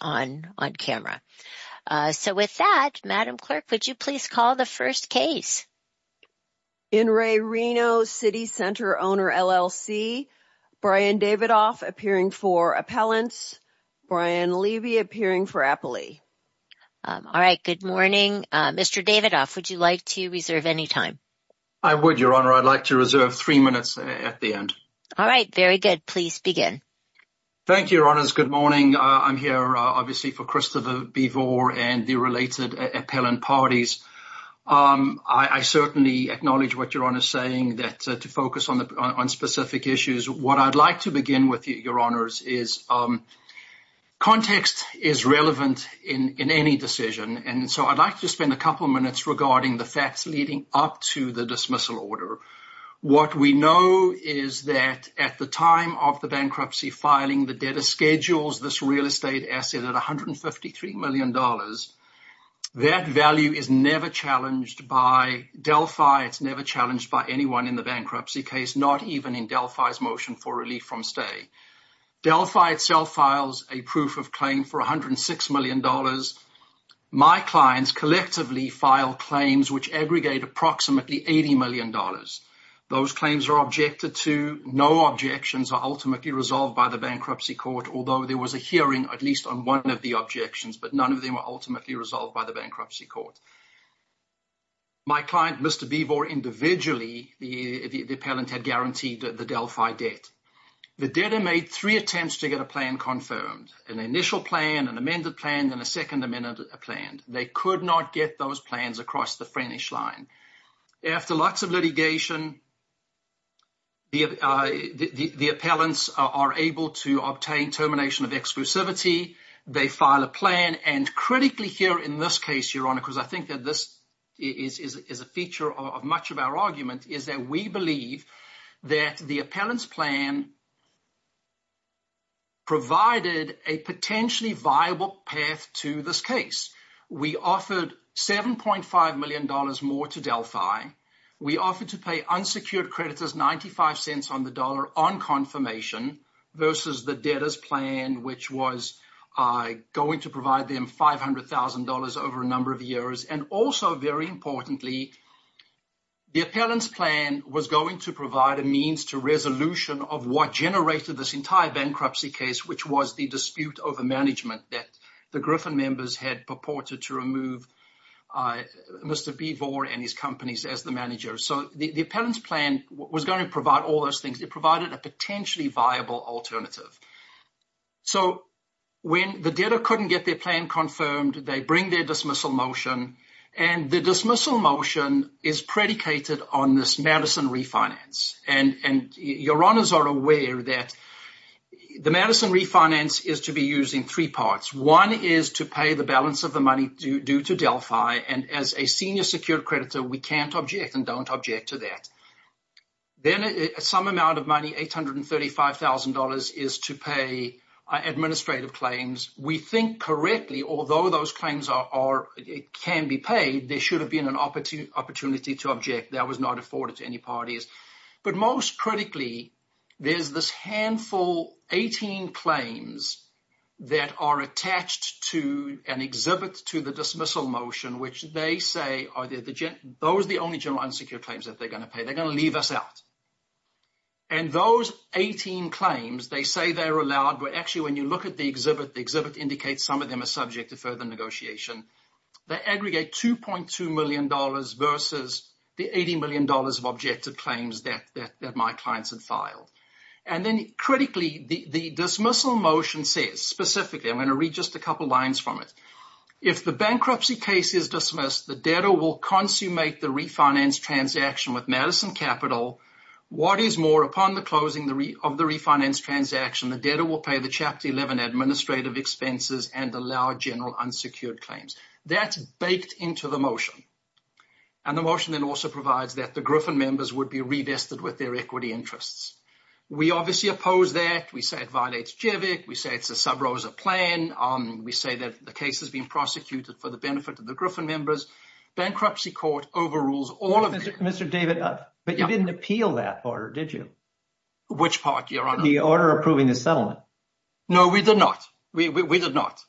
on on camera. So with that, Madam Clerk, would you please call the first case? In re Reno City Center Owner LLC, Brian Davidoff appearing for Appellants, Brian Levy appearing for Appley. All right, good morning. Mr. Davidoff, would you like to reserve any time? I would, Your Honor. I'd like to reserve three minutes at the end. All right, very good. Please begin. Thank you, Your Honors. Good morning. I'm here, obviously, for Christopher Bevor and the related appellant parties. I certainly acknowledge what Your Honor is saying that to focus on specific issues. What I'd like to begin with, Your Honors, is context is relevant in any decision, and so I'd like to spend a couple minutes regarding the facts leading up to the dismissal order. What we know is that at the time of the bankruptcy filing, the debtor schedules this real estate asset at $153 million. That value is never challenged by Delphi. It's never challenged by anyone in the bankruptcy case, not even in Delphi's motion for relief from stay. Delphi itself files a proof of claim for $106 million. My clients collectively file claims which aggregate approximately $80 million. Those claims are objected to. No objections are ultimately resolved by the bankruptcy court, although there was a hearing at least on one of the objections, but none of them were ultimately resolved by the bankruptcy court. My client, Mr. Bevor, individually, the appellant had guaranteed the Delphi debt. The debtor made three attempts to get a plan confirmed, an initial plan, an amended plan, and a second amended plan. They could not get those plans across the French line. After lots of litigation, the appellants are able to obtain termination of exclusivity. They file a plan, and critically here in this case, Your Honor, because I think that this is a feature of much of our argument, is that we believe that the appellant's plan provided a potentially viable path to this case. We offered $7.5 million more to Delphi. We offered to pay unsecured creditors $0.95 on the dollar on confirmation versus the debtor's plan, which was going to provide them $500,000 over a number of years. And also, very importantly, the appellant's plan was going to provide a means to resolution of what generated this entire bankruptcy case, which was the dispute over management that the Griffin members had purported to remove Mr. Bevor and his companies as the manager. So the appellant's plan was going to provide all those things. It provided a potentially viable alternative. So when the debtor couldn't get their plan confirmed, they bring their dismissal motion, and the dismissal is predicated on this Madison refinance. And Your Honors are aware that the Madison refinance is to be used in three parts. One is to pay the balance of the money due to Delphi, and as a senior secured creditor, we can't object and don't object to that. Then some amount of money, $835,000, is to pay administrative claims. We think correctly, although those claims can be paid, there should have been an opportunity to object. That was not afforded to any parties. But most critically, there's this handful, 18 claims, that are attached to an exhibit to the dismissal motion, which they say, those are the only general unsecured claims that they're going to pay. They're going to leave us out. And those 18 claims, they say actually, when you look at the exhibit, the exhibit indicates some of them are subject to further negotiation. They aggregate $2.2 million versus the $80 million of objective claims that my clients had filed. And then critically, the dismissal motion says, specifically, I'm going to read just a couple lines from it. If the bankruptcy case is dismissed, the debtor will consummate the refinance transaction with Madison Capital. What is more, upon the closing of the refinance transaction, the debtor will pay the Chapter 11 administrative expenses and allow general unsecured claims. That's baked into the motion. And the motion then also provides that the Griffin members would be revested with their equity interests. We obviously oppose that. We say it violates JVIC. We say it's a sub-ROSA plan. We say that the case has been prosecuted for the benefit of the Griffin members. Bankruptcy court overrules all of it. Mr. David, but you didn't appeal that order, did you? Which part, Your Honor? The order approving the settlement. No, we did not. We did not.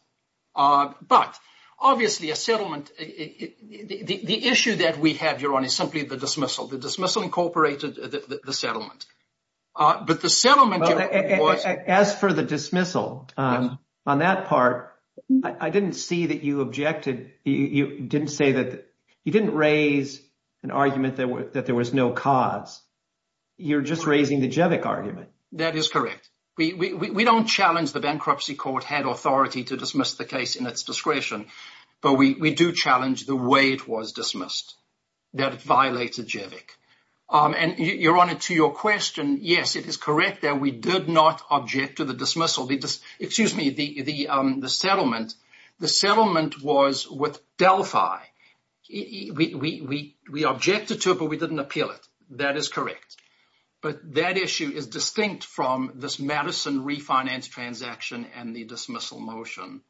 But obviously, a settlement—the issue that we have, Your Honor, is simply the dismissal. The dismissal incorporated the settlement. But the settlement— As for the dismissal, on that part, I didn't see that you objected. You didn't say that—you didn't raise an argument that there was no cause. You're just raising the JVIC argument. That is correct. We don't challenge the bankruptcy court had authority to dismiss the case in its discretion. But we do challenge the way it was dismissed, that it violated JVIC. And, Your Honor, to your question, yes, it is correct that we did not object to the dismissal. Excuse me, the settlement. The settlement was with Delphi. We objected to it, but we didn't appeal it. That is correct. But that issue is distinct from this Madison refinance transaction and the dismissal motion.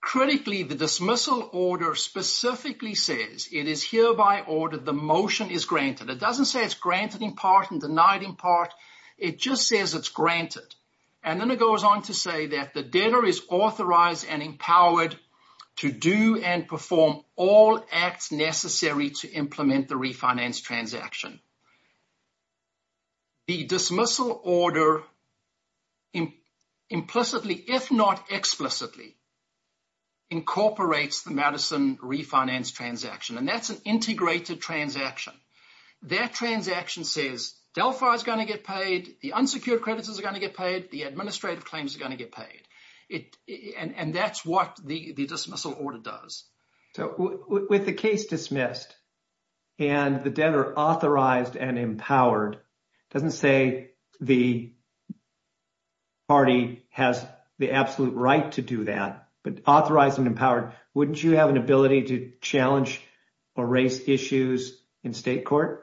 Critically, the dismissal order specifically says it is hereby ordered the motion is granted. It doesn't say it's granted in part and denied in part. It just says it's granted. And then it goes on to say that the debtor is authorized and empowered to do and perform all acts necessary to implement the refinance transaction. The dismissal order implicitly, if not explicitly, incorporates the Madison refinance transaction. And that's an integrated transaction. That transaction says Delphi is going to get paid. The unsecured credits is going to get paid. The administrative claims are going to get paid. And that's what the dismissal order does. So with the case dismissed and the debtor authorized and empowered, doesn't say the party has the absolute right to do that, but authorized and empowered, wouldn't you have an ability to challenge or raise issues in state court?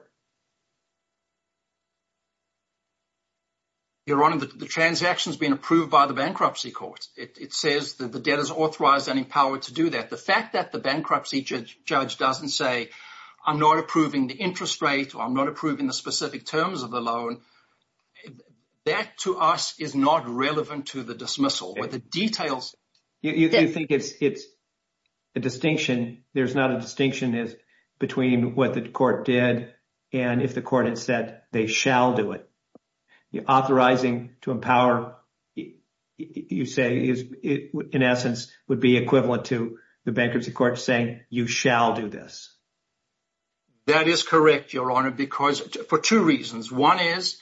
Your Honor, the transaction has been approved by the bankruptcy court. It says that the debtor is authorized and empowered to do that. The fact that the bankruptcy judge doesn't say, I'm not approving the interest rate or I'm not approving the specific terms of the loan. That to us is not relevant to the dismissal. But the details. You think it's a distinction. There's not a distinction between what the court did and if the court had said they shall do it. Authorizing to empower, you say, in essence, would be equivalent to the bankruptcy court saying, you shall do this. That is correct, Your Honor, for two reasons. One is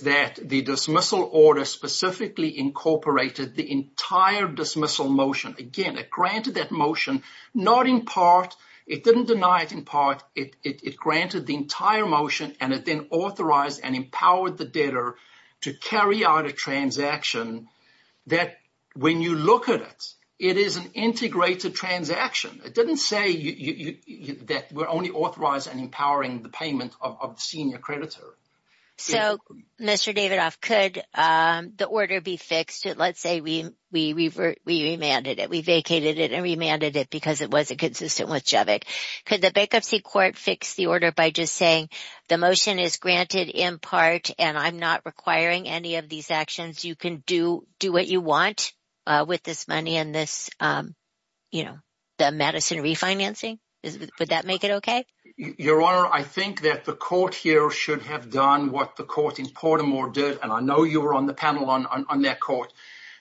that the dismissal order specifically incorporated the entire dismissal motion. Again, it granted that motion, not in part. It didn't deny it in part. It granted the entire motion and it then authorized and empowered the debtor to carry out a transaction that when you look at it, it is an integrated transaction. It didn't say that we're only authorized and empowering the payment of the senior creditor. So, Mr. Davidoff, could the order be fixed? Let's say we remanded it. We vacated it and remanded it because it wasn't consistent with Javik. Could the bankruptcy court fix the order by just saying the motion is granted in part and I'm not requiring any of these actions. You can do what you want with this money and this, you know, the Madison refinancing. Would that make it okay? Your Honor, I think that the court here should have done what the court in Portimore did and I know you were on the panel on that court.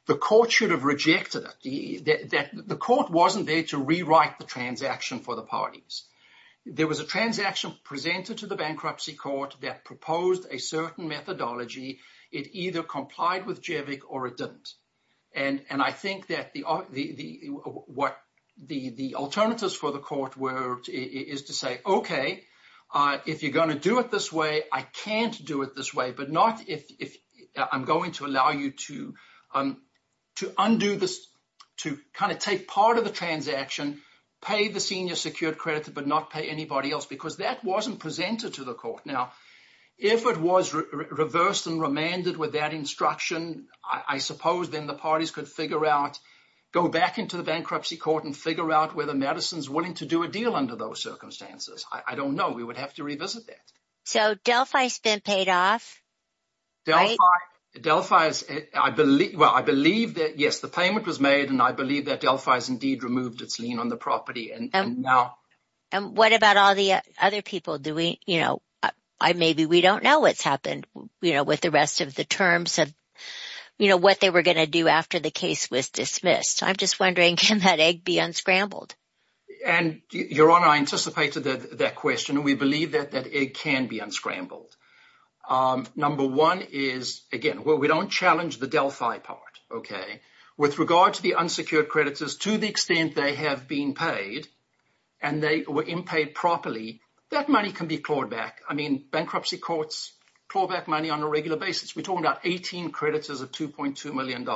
The court should have rejected it. The court wasn't there to rewrite the transaction for the parties. There was a transaction presented to the bankruptcy court that proposed a certain methodology. It either complied with Javik or it didn't. And I think that what the alternatives for the court were is to say, okay, if you're going to do it this way, I can't do it this way, but not if I'm going to allow you to undo this, to kind of take part of the transaction, pay the senior secured credit, but not pay anybody else because that wasn't presented to the court. Now, if it was reversed and remanded with that instruction, I suppose then the parties could figure out, go back into the bankruptcy court and figure out whether Madison's willing to do a deal under those circumstances. I don't know. We would have to revisit that. So Delphi's been paid off? Delphi's, I believe, well, I believe that yes, the payment was made and I believe that Delphi's removed its lien on the property. And what about all the other people? Maybe we don't know what's happened with the rest of the terms of what they were going to do after the case was dismissed. I'm just wondering, can that egg be unscrambled? And Your Honor, I anticipated that question. We believe that it can be unscrambled. Number one is, again, we don't challenge the Delphi part, okay? With regard to the unsecured creditors, to the extent they have been paid and they were impaid properly, that money can be clawed back. I mean, bankruptcy courts claw back money on a regular basis. We're talking about 18 creditors of $2.2 million.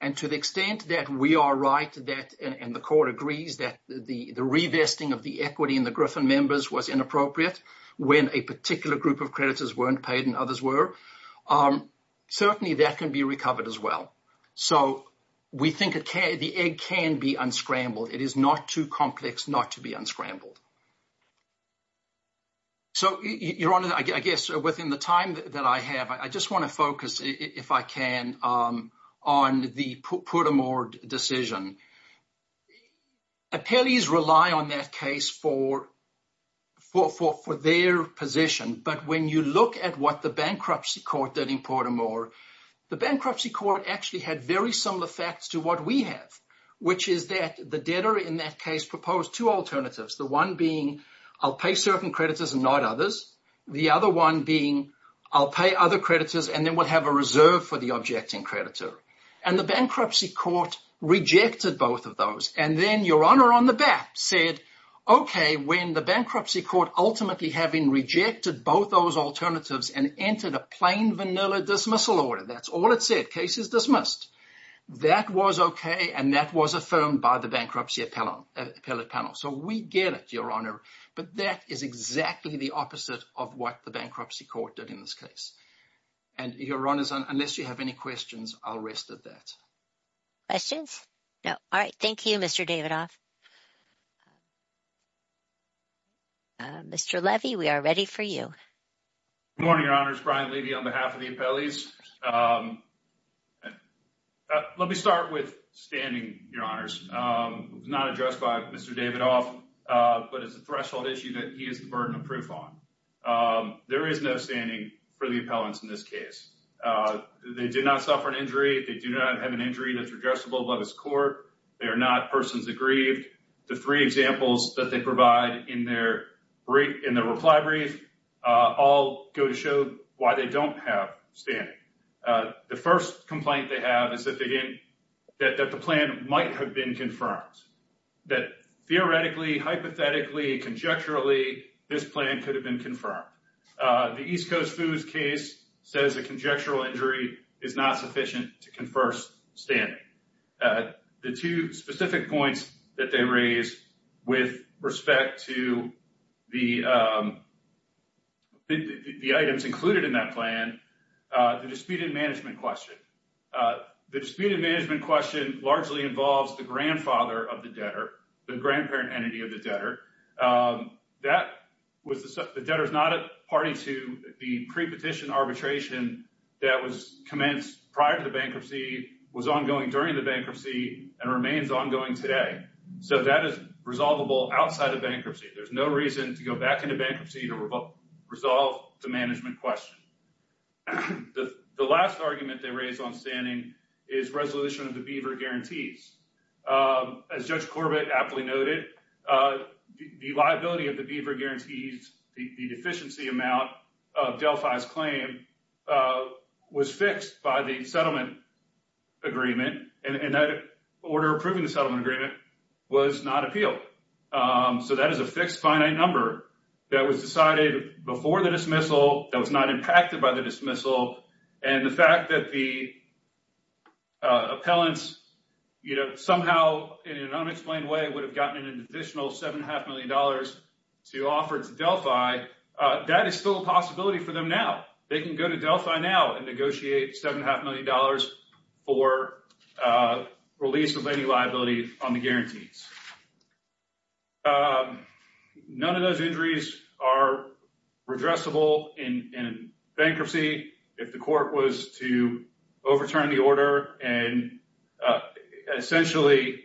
And to the extent that we are right that, and the court agrees that the revesting of the equity in the Griffin members was inappropriate when a particular group of creditors weren't paid and others were, certainly that can be recovered as well. So, we think the egg can be unscrambled. It is not too complex not to be unscrambled. So, Your Honor, I guess within the time that I have, I just want to focus, if I can, on the Poudamore decision. Appellees rely on that case for their position. But when you look at what the bankruptcy court did in Poudamore, the bankruptcy court actually had very similar facts to what we have, which is that the debtor in that case proposed two alternatives. The one being, I'll pay certain creditors and not others. The other one being, I'll pay other creditors and then we'll have a reserve for the objecting creditor. And the bankruptcy court rejected both of those. And then Your Honor on the back said, okay, when the bankruptcy court ultimately having rejected both those alternatives and entered a plain vanilla dismissal order, that's all it said, case is dismissed. That was okay and that was affirmed by the bankruptcy appellate panel. So, we get it, Your Honor. But that is exactly the opposite of what the bankruptcy court did in this case. And Your Honor, unless you have any questions, I'll rest at that. Questions? No. All right. Thank you, Mr. Davidoff. Mr. Levy, we are ready for you. Good morning, Your Honors. Brian Levy on behalf of the appellees. Let me start with standing, Your Honors. Not addressed by Mr. Davidoff, but it's a threshold issue that he is the burden of proof on. There is no standing for the appellants in this case. They did not suffer an injury. They do not have an injury that's addressable by this court. They are not persons aggrieved. The three examples that they provide in their reply brief all go to show why they don't have standing. The first complaint they have is that the plan might have been confirmed. That theoretically, hypothetically, conjecturally, this plan could have been confirmed. The East Coast Foods case says a conjectural injury is not sufficient to confer standing. The two specific points that they raise with respect to the items included in that plan, the disputed management question. The disputed management question largely involves the grandfather of the debtor, the grandparent entity of the debtor. The debtor is not a party to the pre-petition arbitration that was commenced prior to the bankruptcy, was ongoing during the bankruptcy, and remains ongoing today. That is resolvable outside of bankruptcy. There's no reason to go back into bankruptcy to resolve the management question. The last argument they raise on standing is resolution of the Beaver Guarantees. As Judge Corbett aptly noted, the liability of the Beaver Guarantees, the deficiency amount of Delphi's claim, was fixed by the settlement agreement. That order approving the settlement agreement was not appealed. That is a fixed finite number that was decided before the dismissal, that was not impacted by the dismissal. The fact that the appellants somehow, in an unexplained way, would have gotten an additional $7.5 million to offer to Delphi, that is still a possibility for them now. They can go to Delphi now and negotiate $7.5 million for release of any liability on the Guarantees. None of those injuries are redressable in bankruptcy if the court was to overturn the order. Essentially,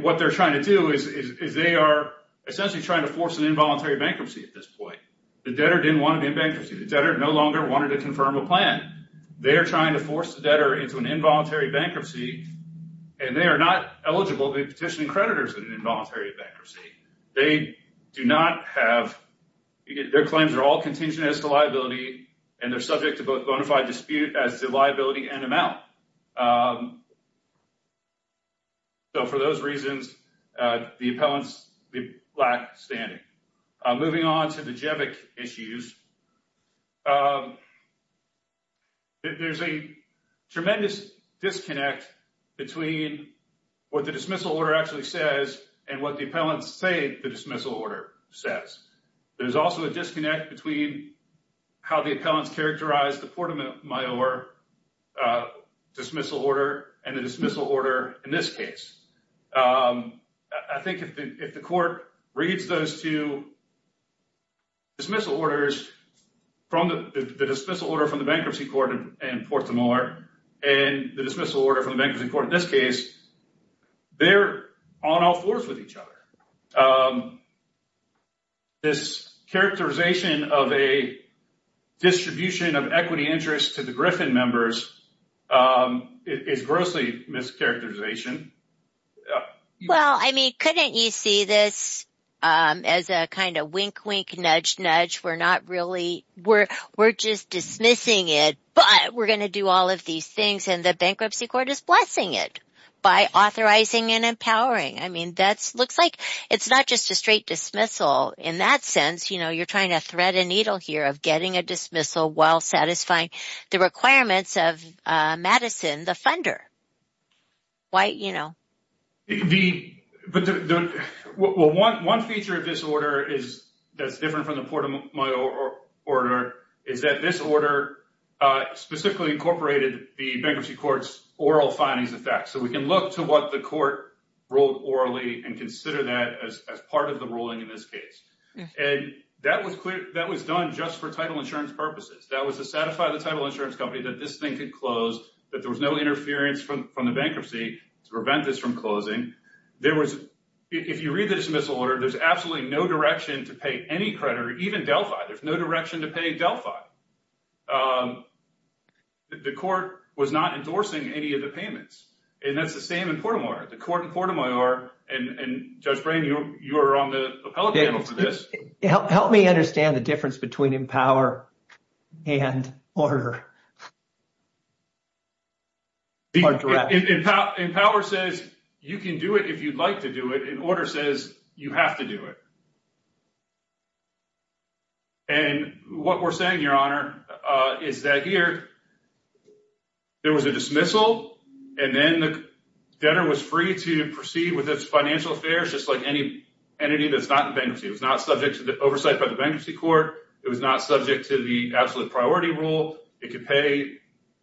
what they're trying to do is they are essentially trying to force an involuntary bankruptcy at this point. The debtor didn't want to be in bankruptcy. The debtor no longer wanted to confirm a plan. They are trying to force the debtor into an involuntary bankruptcy, and they are not eligible to be petitioning creditors in an involuntary bankruptcy. Their claims are all contingent as to liability, and they're subject to both bonafide dispute as to liability and amount. For those reasons, the appellants lack standing. Moving on to the JEVIC issues, there's a tremendous disconnect between what the dismissal order actually says and what the appellants say the dismissal order says. There's also a disconnect between how the appellants characterize the Porta Mayor dismissal order and the dismissal order in this case. I think if the reads those two dismissal orders, the dismissal order from the bankruptcy court in Porta Mayor and the dismissal order from the bankruptcy court in this case, they're on all fours with each other. This characterization of a distribution of equity interest to the Griffin members is grossly mischaracterized. Couldn't you see this as a kind of wink-wink, nudge-nudge? We're just dismissing it, but we're going to do all of these things, and the bankruptcy court is blessing it by authorizing and empowering. It's not just a straight dismissal in that sense. You're trying to thread a needle here of getting a dismissal while satisfying the requirements of Madison, the funder. One feature of this order that's different from the Porta Mayor order is that this order specifically incorporated the bankruptcy court's oral findings effect. We can look to what the court ruled orally and consider that as part of the ruling in this case. That was done just for insurance purposes. That was to satisfy the title insurance company that this thing could close, that there was no interference from the bankruptcy to prevent this from closing. If you read the dismissal order, there's absolutely no direction to pay any creditor, even Delphi. There's no direction to pay Delphi. The court was not endorsing any of the payments, and that's the same in Porta Mayor. The court in Porta Mayor, and Judge Brain, you're on the appellate panel for this. Help me understand the difference between empower and order. Empower says you can do it if you'd like to do it, and order says you have to do it. What we're saying, Your Honor, is that here there was a dismissal, and then the financial affairs, just like any entity that's not in bankruptcy, it was not subject to the oversight by the bankruptcy court. It was not subject to the absolute priority rule. It could pay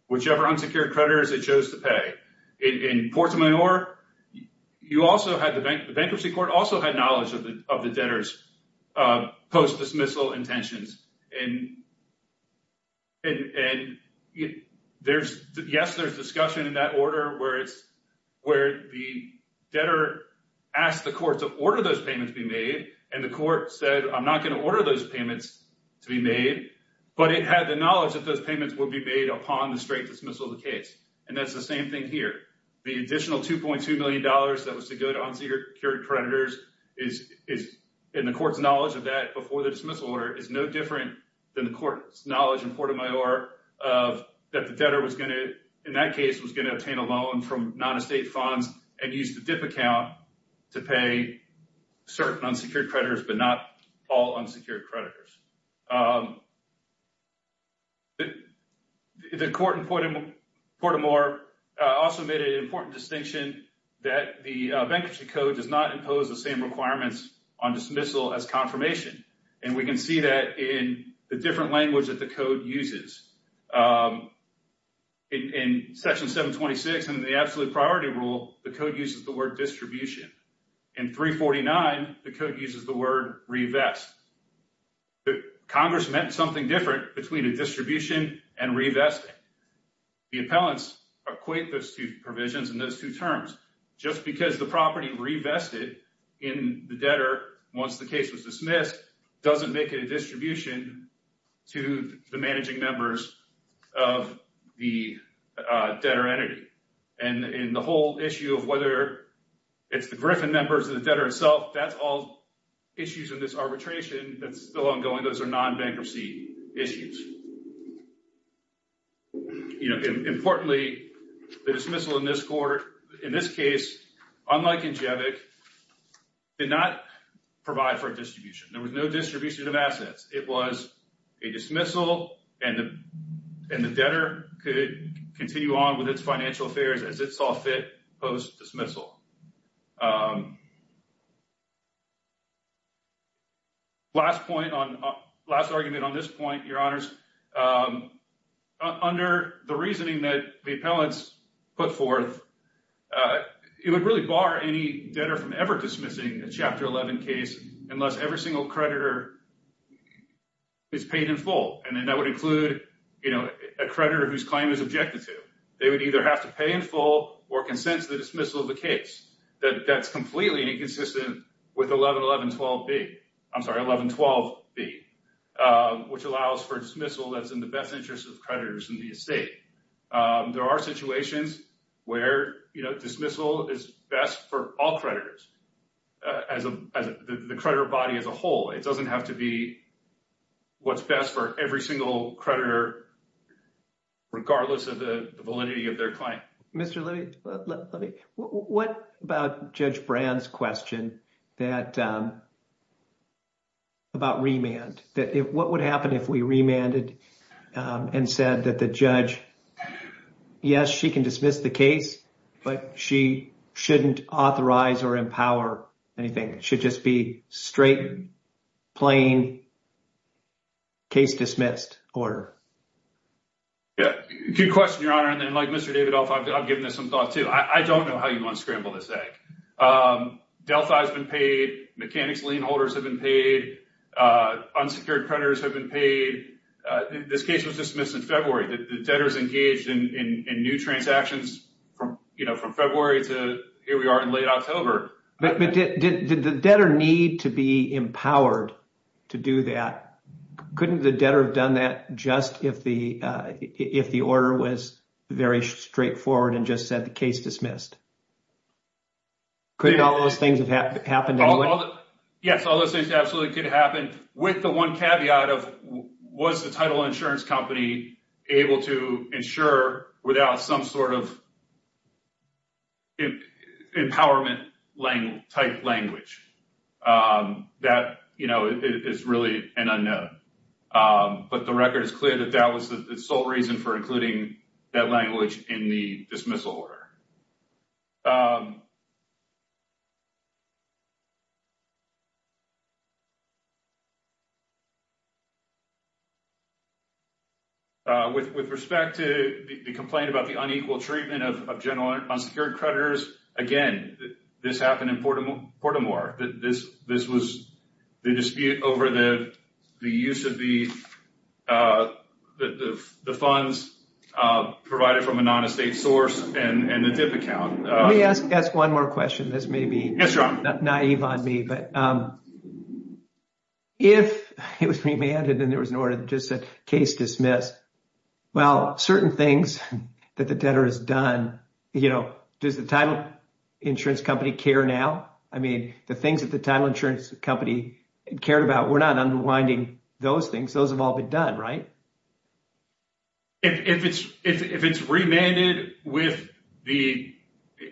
whichever unsecured creditors it chose to pay. In Porta Mayor, the bankruptcy court also had knowledge of the debtor's post-dismissal intentions. Yes, there's discussion in that order where the debtor asked the court to order those payments to be made, and the court said, I'm not going to order those payments to be made, but it had the knowledge that those payments would be made upon the straight dismissal of the case. That's the same thing here. The additional $2.2 million that was to go to unsecured creditors, and the court's knowledge of that before the dismissal order, is no different than the court's knowledge in Porta Mayor. The court also made an important distinction that the bankruptcy code does not impose the same requirements on dismissal as confirmation. We can see that in the different absolute priority rule, the code uses the word distribution. In 349, the code uses the word revest. Congress meant something different between a distribution and revesting. The appellants equate those two provisions and those two terms. Just because the property revested in the debtor once the case was dismissed, doesn't make it a distribution to the managing members of the debtor entity. The whole issue of whether it's the Griffin members or the debtor itself, that's all issues in this arbitration that's still ongoing. Those are non-bankruptcy issues. Importantly, the dismissal in this case, unlike in Jevick, did not provide for a distribution. There was no distribution of assets. It was a dismissal, and the debtor could continue on with its financial affairs as it saw fit post-dismissal. Last argument on this point, your honors. Under the reasoning that the appellants put forth, it would really bar any debtor from ever dismissing a Chapter 11 case unless every single creditor is paid in full. That would include a creditor whose claim is objected to. They would either have to pay in full or consent to the dismissal of the case. That's completely inconsistent with 1112B, which allows for dismissal that's in the best interest of creditors in the estate. There are situations where dismissal is best for all creditors, as the creditor body as a whole. It doesn't have to be what's best for every single creditor, regardless of the validity of their claim. What about Judge Brand's question about remand? What would happen if we remanded and said that the judge, yes, she can dismiss the case, but she shouldn't authorize or empower anything? It should just be straight, plain, case-dismissed order. Good question, your honor. Mr. Davidoff, I've given this some thought, too. I don't know how you want to scramble this egg. Delphi has been paid. Mechanics lien holders have been paid. Unsecured creditors have been paid. This case was dismissed in February. The debtors engaged in new transactions from February to here we are in late October. Did the debtor need to be empowered to do that? Couldn't the debtor have done that just if the order was very straightforward and just said the case dismissed? Couldn't all those things have happened? Yes, all those things could happen with the one caveat of was the title insurance company able to insure without some sort of empowerment-type language? That is really an unknown, but the record is clear that that was the sole reason for including that language in the dismissal order. With respect to the complaint about the unequal treatment of general unsecured creditors, again, this happened in Port Amour. This was the dispute over the use of the funds provided from a non-estate source and the dip account. Let me ask one more question. This may be naïve on me, but if it was remanded and there was an order that just said case dismissed, well, certain things that the debtor has done, does the title insurance company care now? I mean, the things that the title insurance company cared about, we're not unwinding those things. Those have all been done, right? If it's remanded with the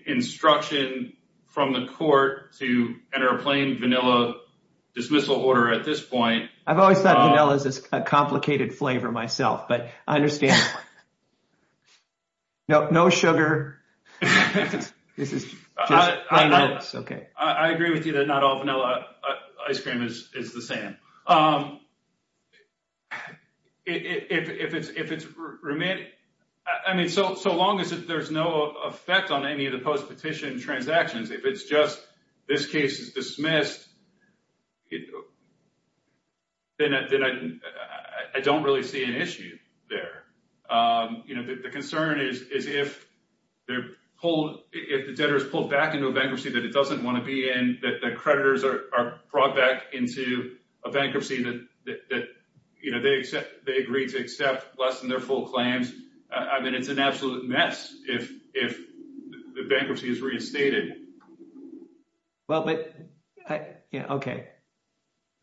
instruction from the court to enter a plain vanilla dismissal order at this point. I've always thought vanilla is a complicated flavor myself, but I understand. No sugar. I agree with you that not all vanilla ice cream is the same. I mean, so long as there's no effect on any of the post-petition transactions, if it's just this case is dismissed, then I don't really see an issue there. The concern is if the debtor is pulled back into a bankruptcy that it doesn't want to be in, that the creditors are brought back into a bankruptcy that they agreed to accept less than their full claims. I mean, it's an absolute mess if the bankruptcy is reinstated. Well, but, yeah, okay.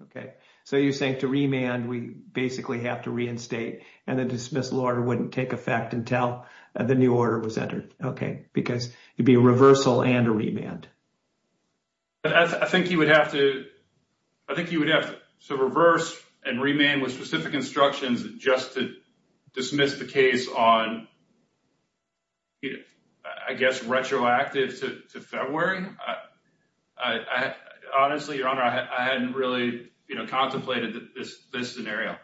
Okay. So you're saying to remand, we basically have to reinstate and the dismissal order wouldn't take effect until the new order was entered. Okay. Because it'd reversal and a remand. I think you would have to reverse and remain with specific instructions just to dismiss the case on, I guess, retroactive to February. Honestly, Your Honor, I hadn't really contemplated this scenario.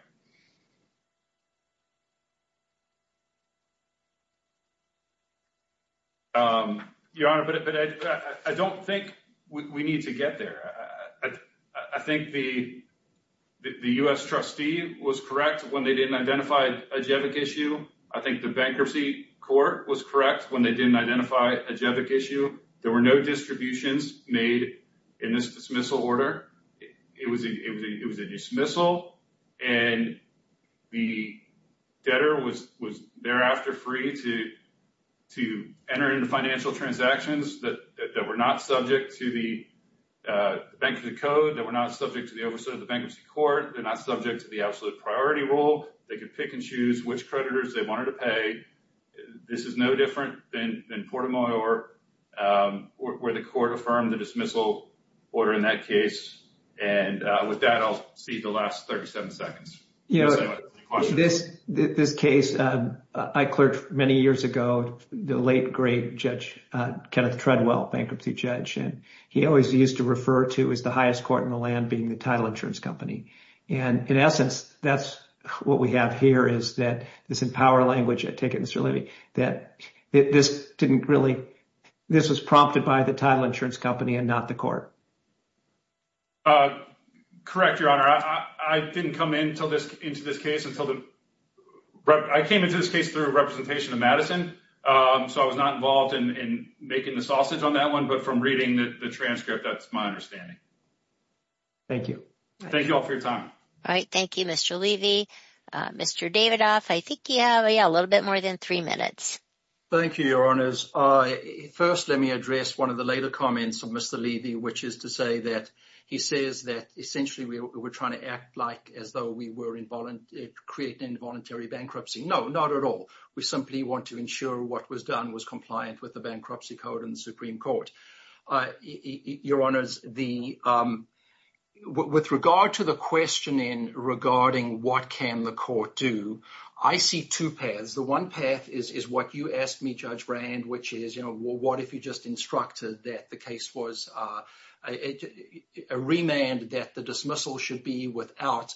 Your Honor, but I don't think we need to get there. I think the U.S. trustee was correct when they didn't identify a GEVIC issue. I think the bankruptcy court was correct when they didn't identify a GEVIC issue. There were no distributions made in this dismissal order. It was a dismissal and the debtor was thereafter free to enter into financial transactions that were not subject to the oversight of the bankruptcy court. They're not subject to the absolute priority rule. They could pick and choose which creditors they wanted to pay. This is no different than Port order in that case. With that, I'll cede the last 37 seconds. This case, I clerked many years ago, the late great judge, Kenneth Treadwell, bankruptcy judge, and he always used to refer to as the highest court in the land being the title insurance company. In essence, that's what we have here is that this in power language, I take it, Mr. Levy, that this didn't really, this was prompted by the title insurance company and not the court. Correct, your honor. I didn't come into this case until the, I came into this case through representation of Madison. So I was not involved in making the sausage on that one, but from reading the transcript, that's my understanding. Thank you. Thank you all for your time. All right. Thank you, Mr. Levy. Mr. Davidoff, I think you have a little bit more than three minutes. Thank you, your honors. First, let me address one of the later comments of Mr. Levy, which is to say that he says that essentially we were trying to act like as though we were creating involuntary bankruptcy. No, not at all. We simply want to ensure what was done was compliant with the regarding what can the court do? I see two paths. The one path is what you asked me, Judge Brand, which is what if you just instructed that the case was remanded, that the dismissal should be without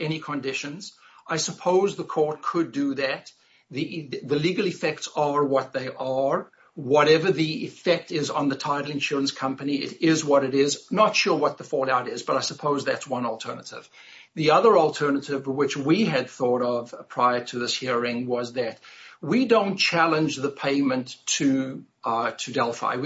any conditions. I suppose the court could do that. The legal effects are what they are. Whatever the effect is on the title insurance company, it is what it is. Not sure what the fallout is, but I suppose that's one alternative. The other alternative, which we had thought of prior to this hearing, was that we don't challenge the payment to Delphi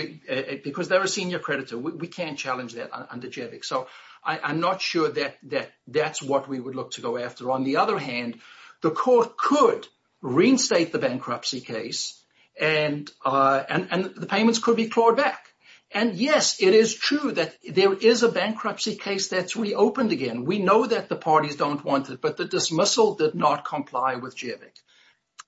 because they're a senior creditor. We can't challenge that under JVIC. So I'm not sure that that's what we would look to go after. On the other hand, the court could reinstate the bankruptcy case and the payments could be clawed back. Yes, it is true that there is a bankruptcy case that's reopened again. We know that the parties don't want it, but the dismissal did not comply with JVIC.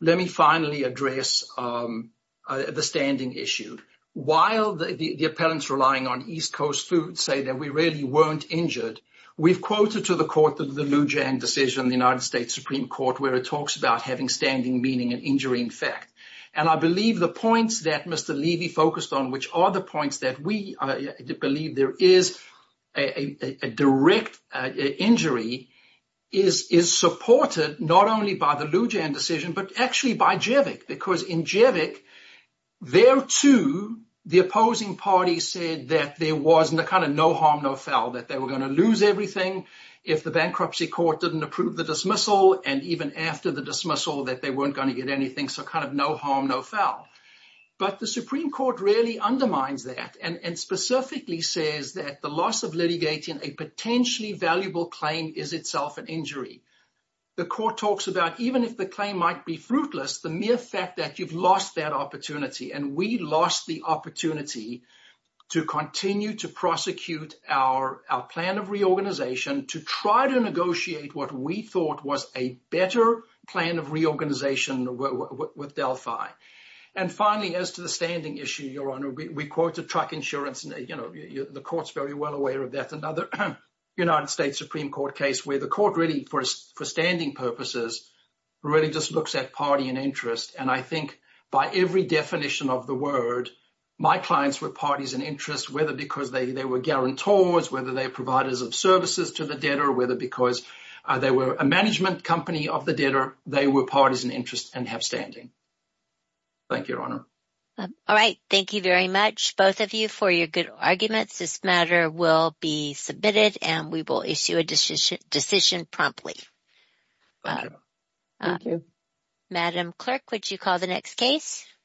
Let me finally address the standing issue. While the appellants relying on East Coast food say that we really weren't injured, we've quoted to the court the Lou Jiang decision, the United States Supreme Court, where it talks about having standing meaning an injury in fact. I believe the points that Mr. Weiss made, that we believe there is a direct injury, is supported not only by the Lou Jiang decision, but actually by JVIC. Because in JVIC, there too, the opposing party said that there was kind of no harm, no foul, that they were going to lose everything if the bankruptcy court didn't approve the dismissal and even after the dismissal that they weren't going to get anything. So kind of no harm, no foul. But the Supreme Court really undermines that and specifically says that the loss of litigating a potentially valuable claim is itself an injury. The court talks about even if the claim might be fruitless, the mere fact that you've lost that opportunity and we lost the opportunity to continue to prosecute our plan of reorganization to try to negotiate what we thought was a better plan of reorganization with Delphi. And finally, as to the standing issue, Your Honor, we quoted truck insurance and the court's very well aware of that. Another United States Supreme Court case where the court really, for standing purposes, really just looks at party and interest. And I think by every definition of the word, my clients were parties in interest, whether because they were guarantors, whether they were providers of services to the debtor, whether because they were a management company of the debtor, they were parties in interest and have standing. Thank you, Your Honor. All right. Thank you very much, both of you, for your good arguments. This matter will be submitted and we will issue a decision promptly. Madam Clerk, would you call the next case?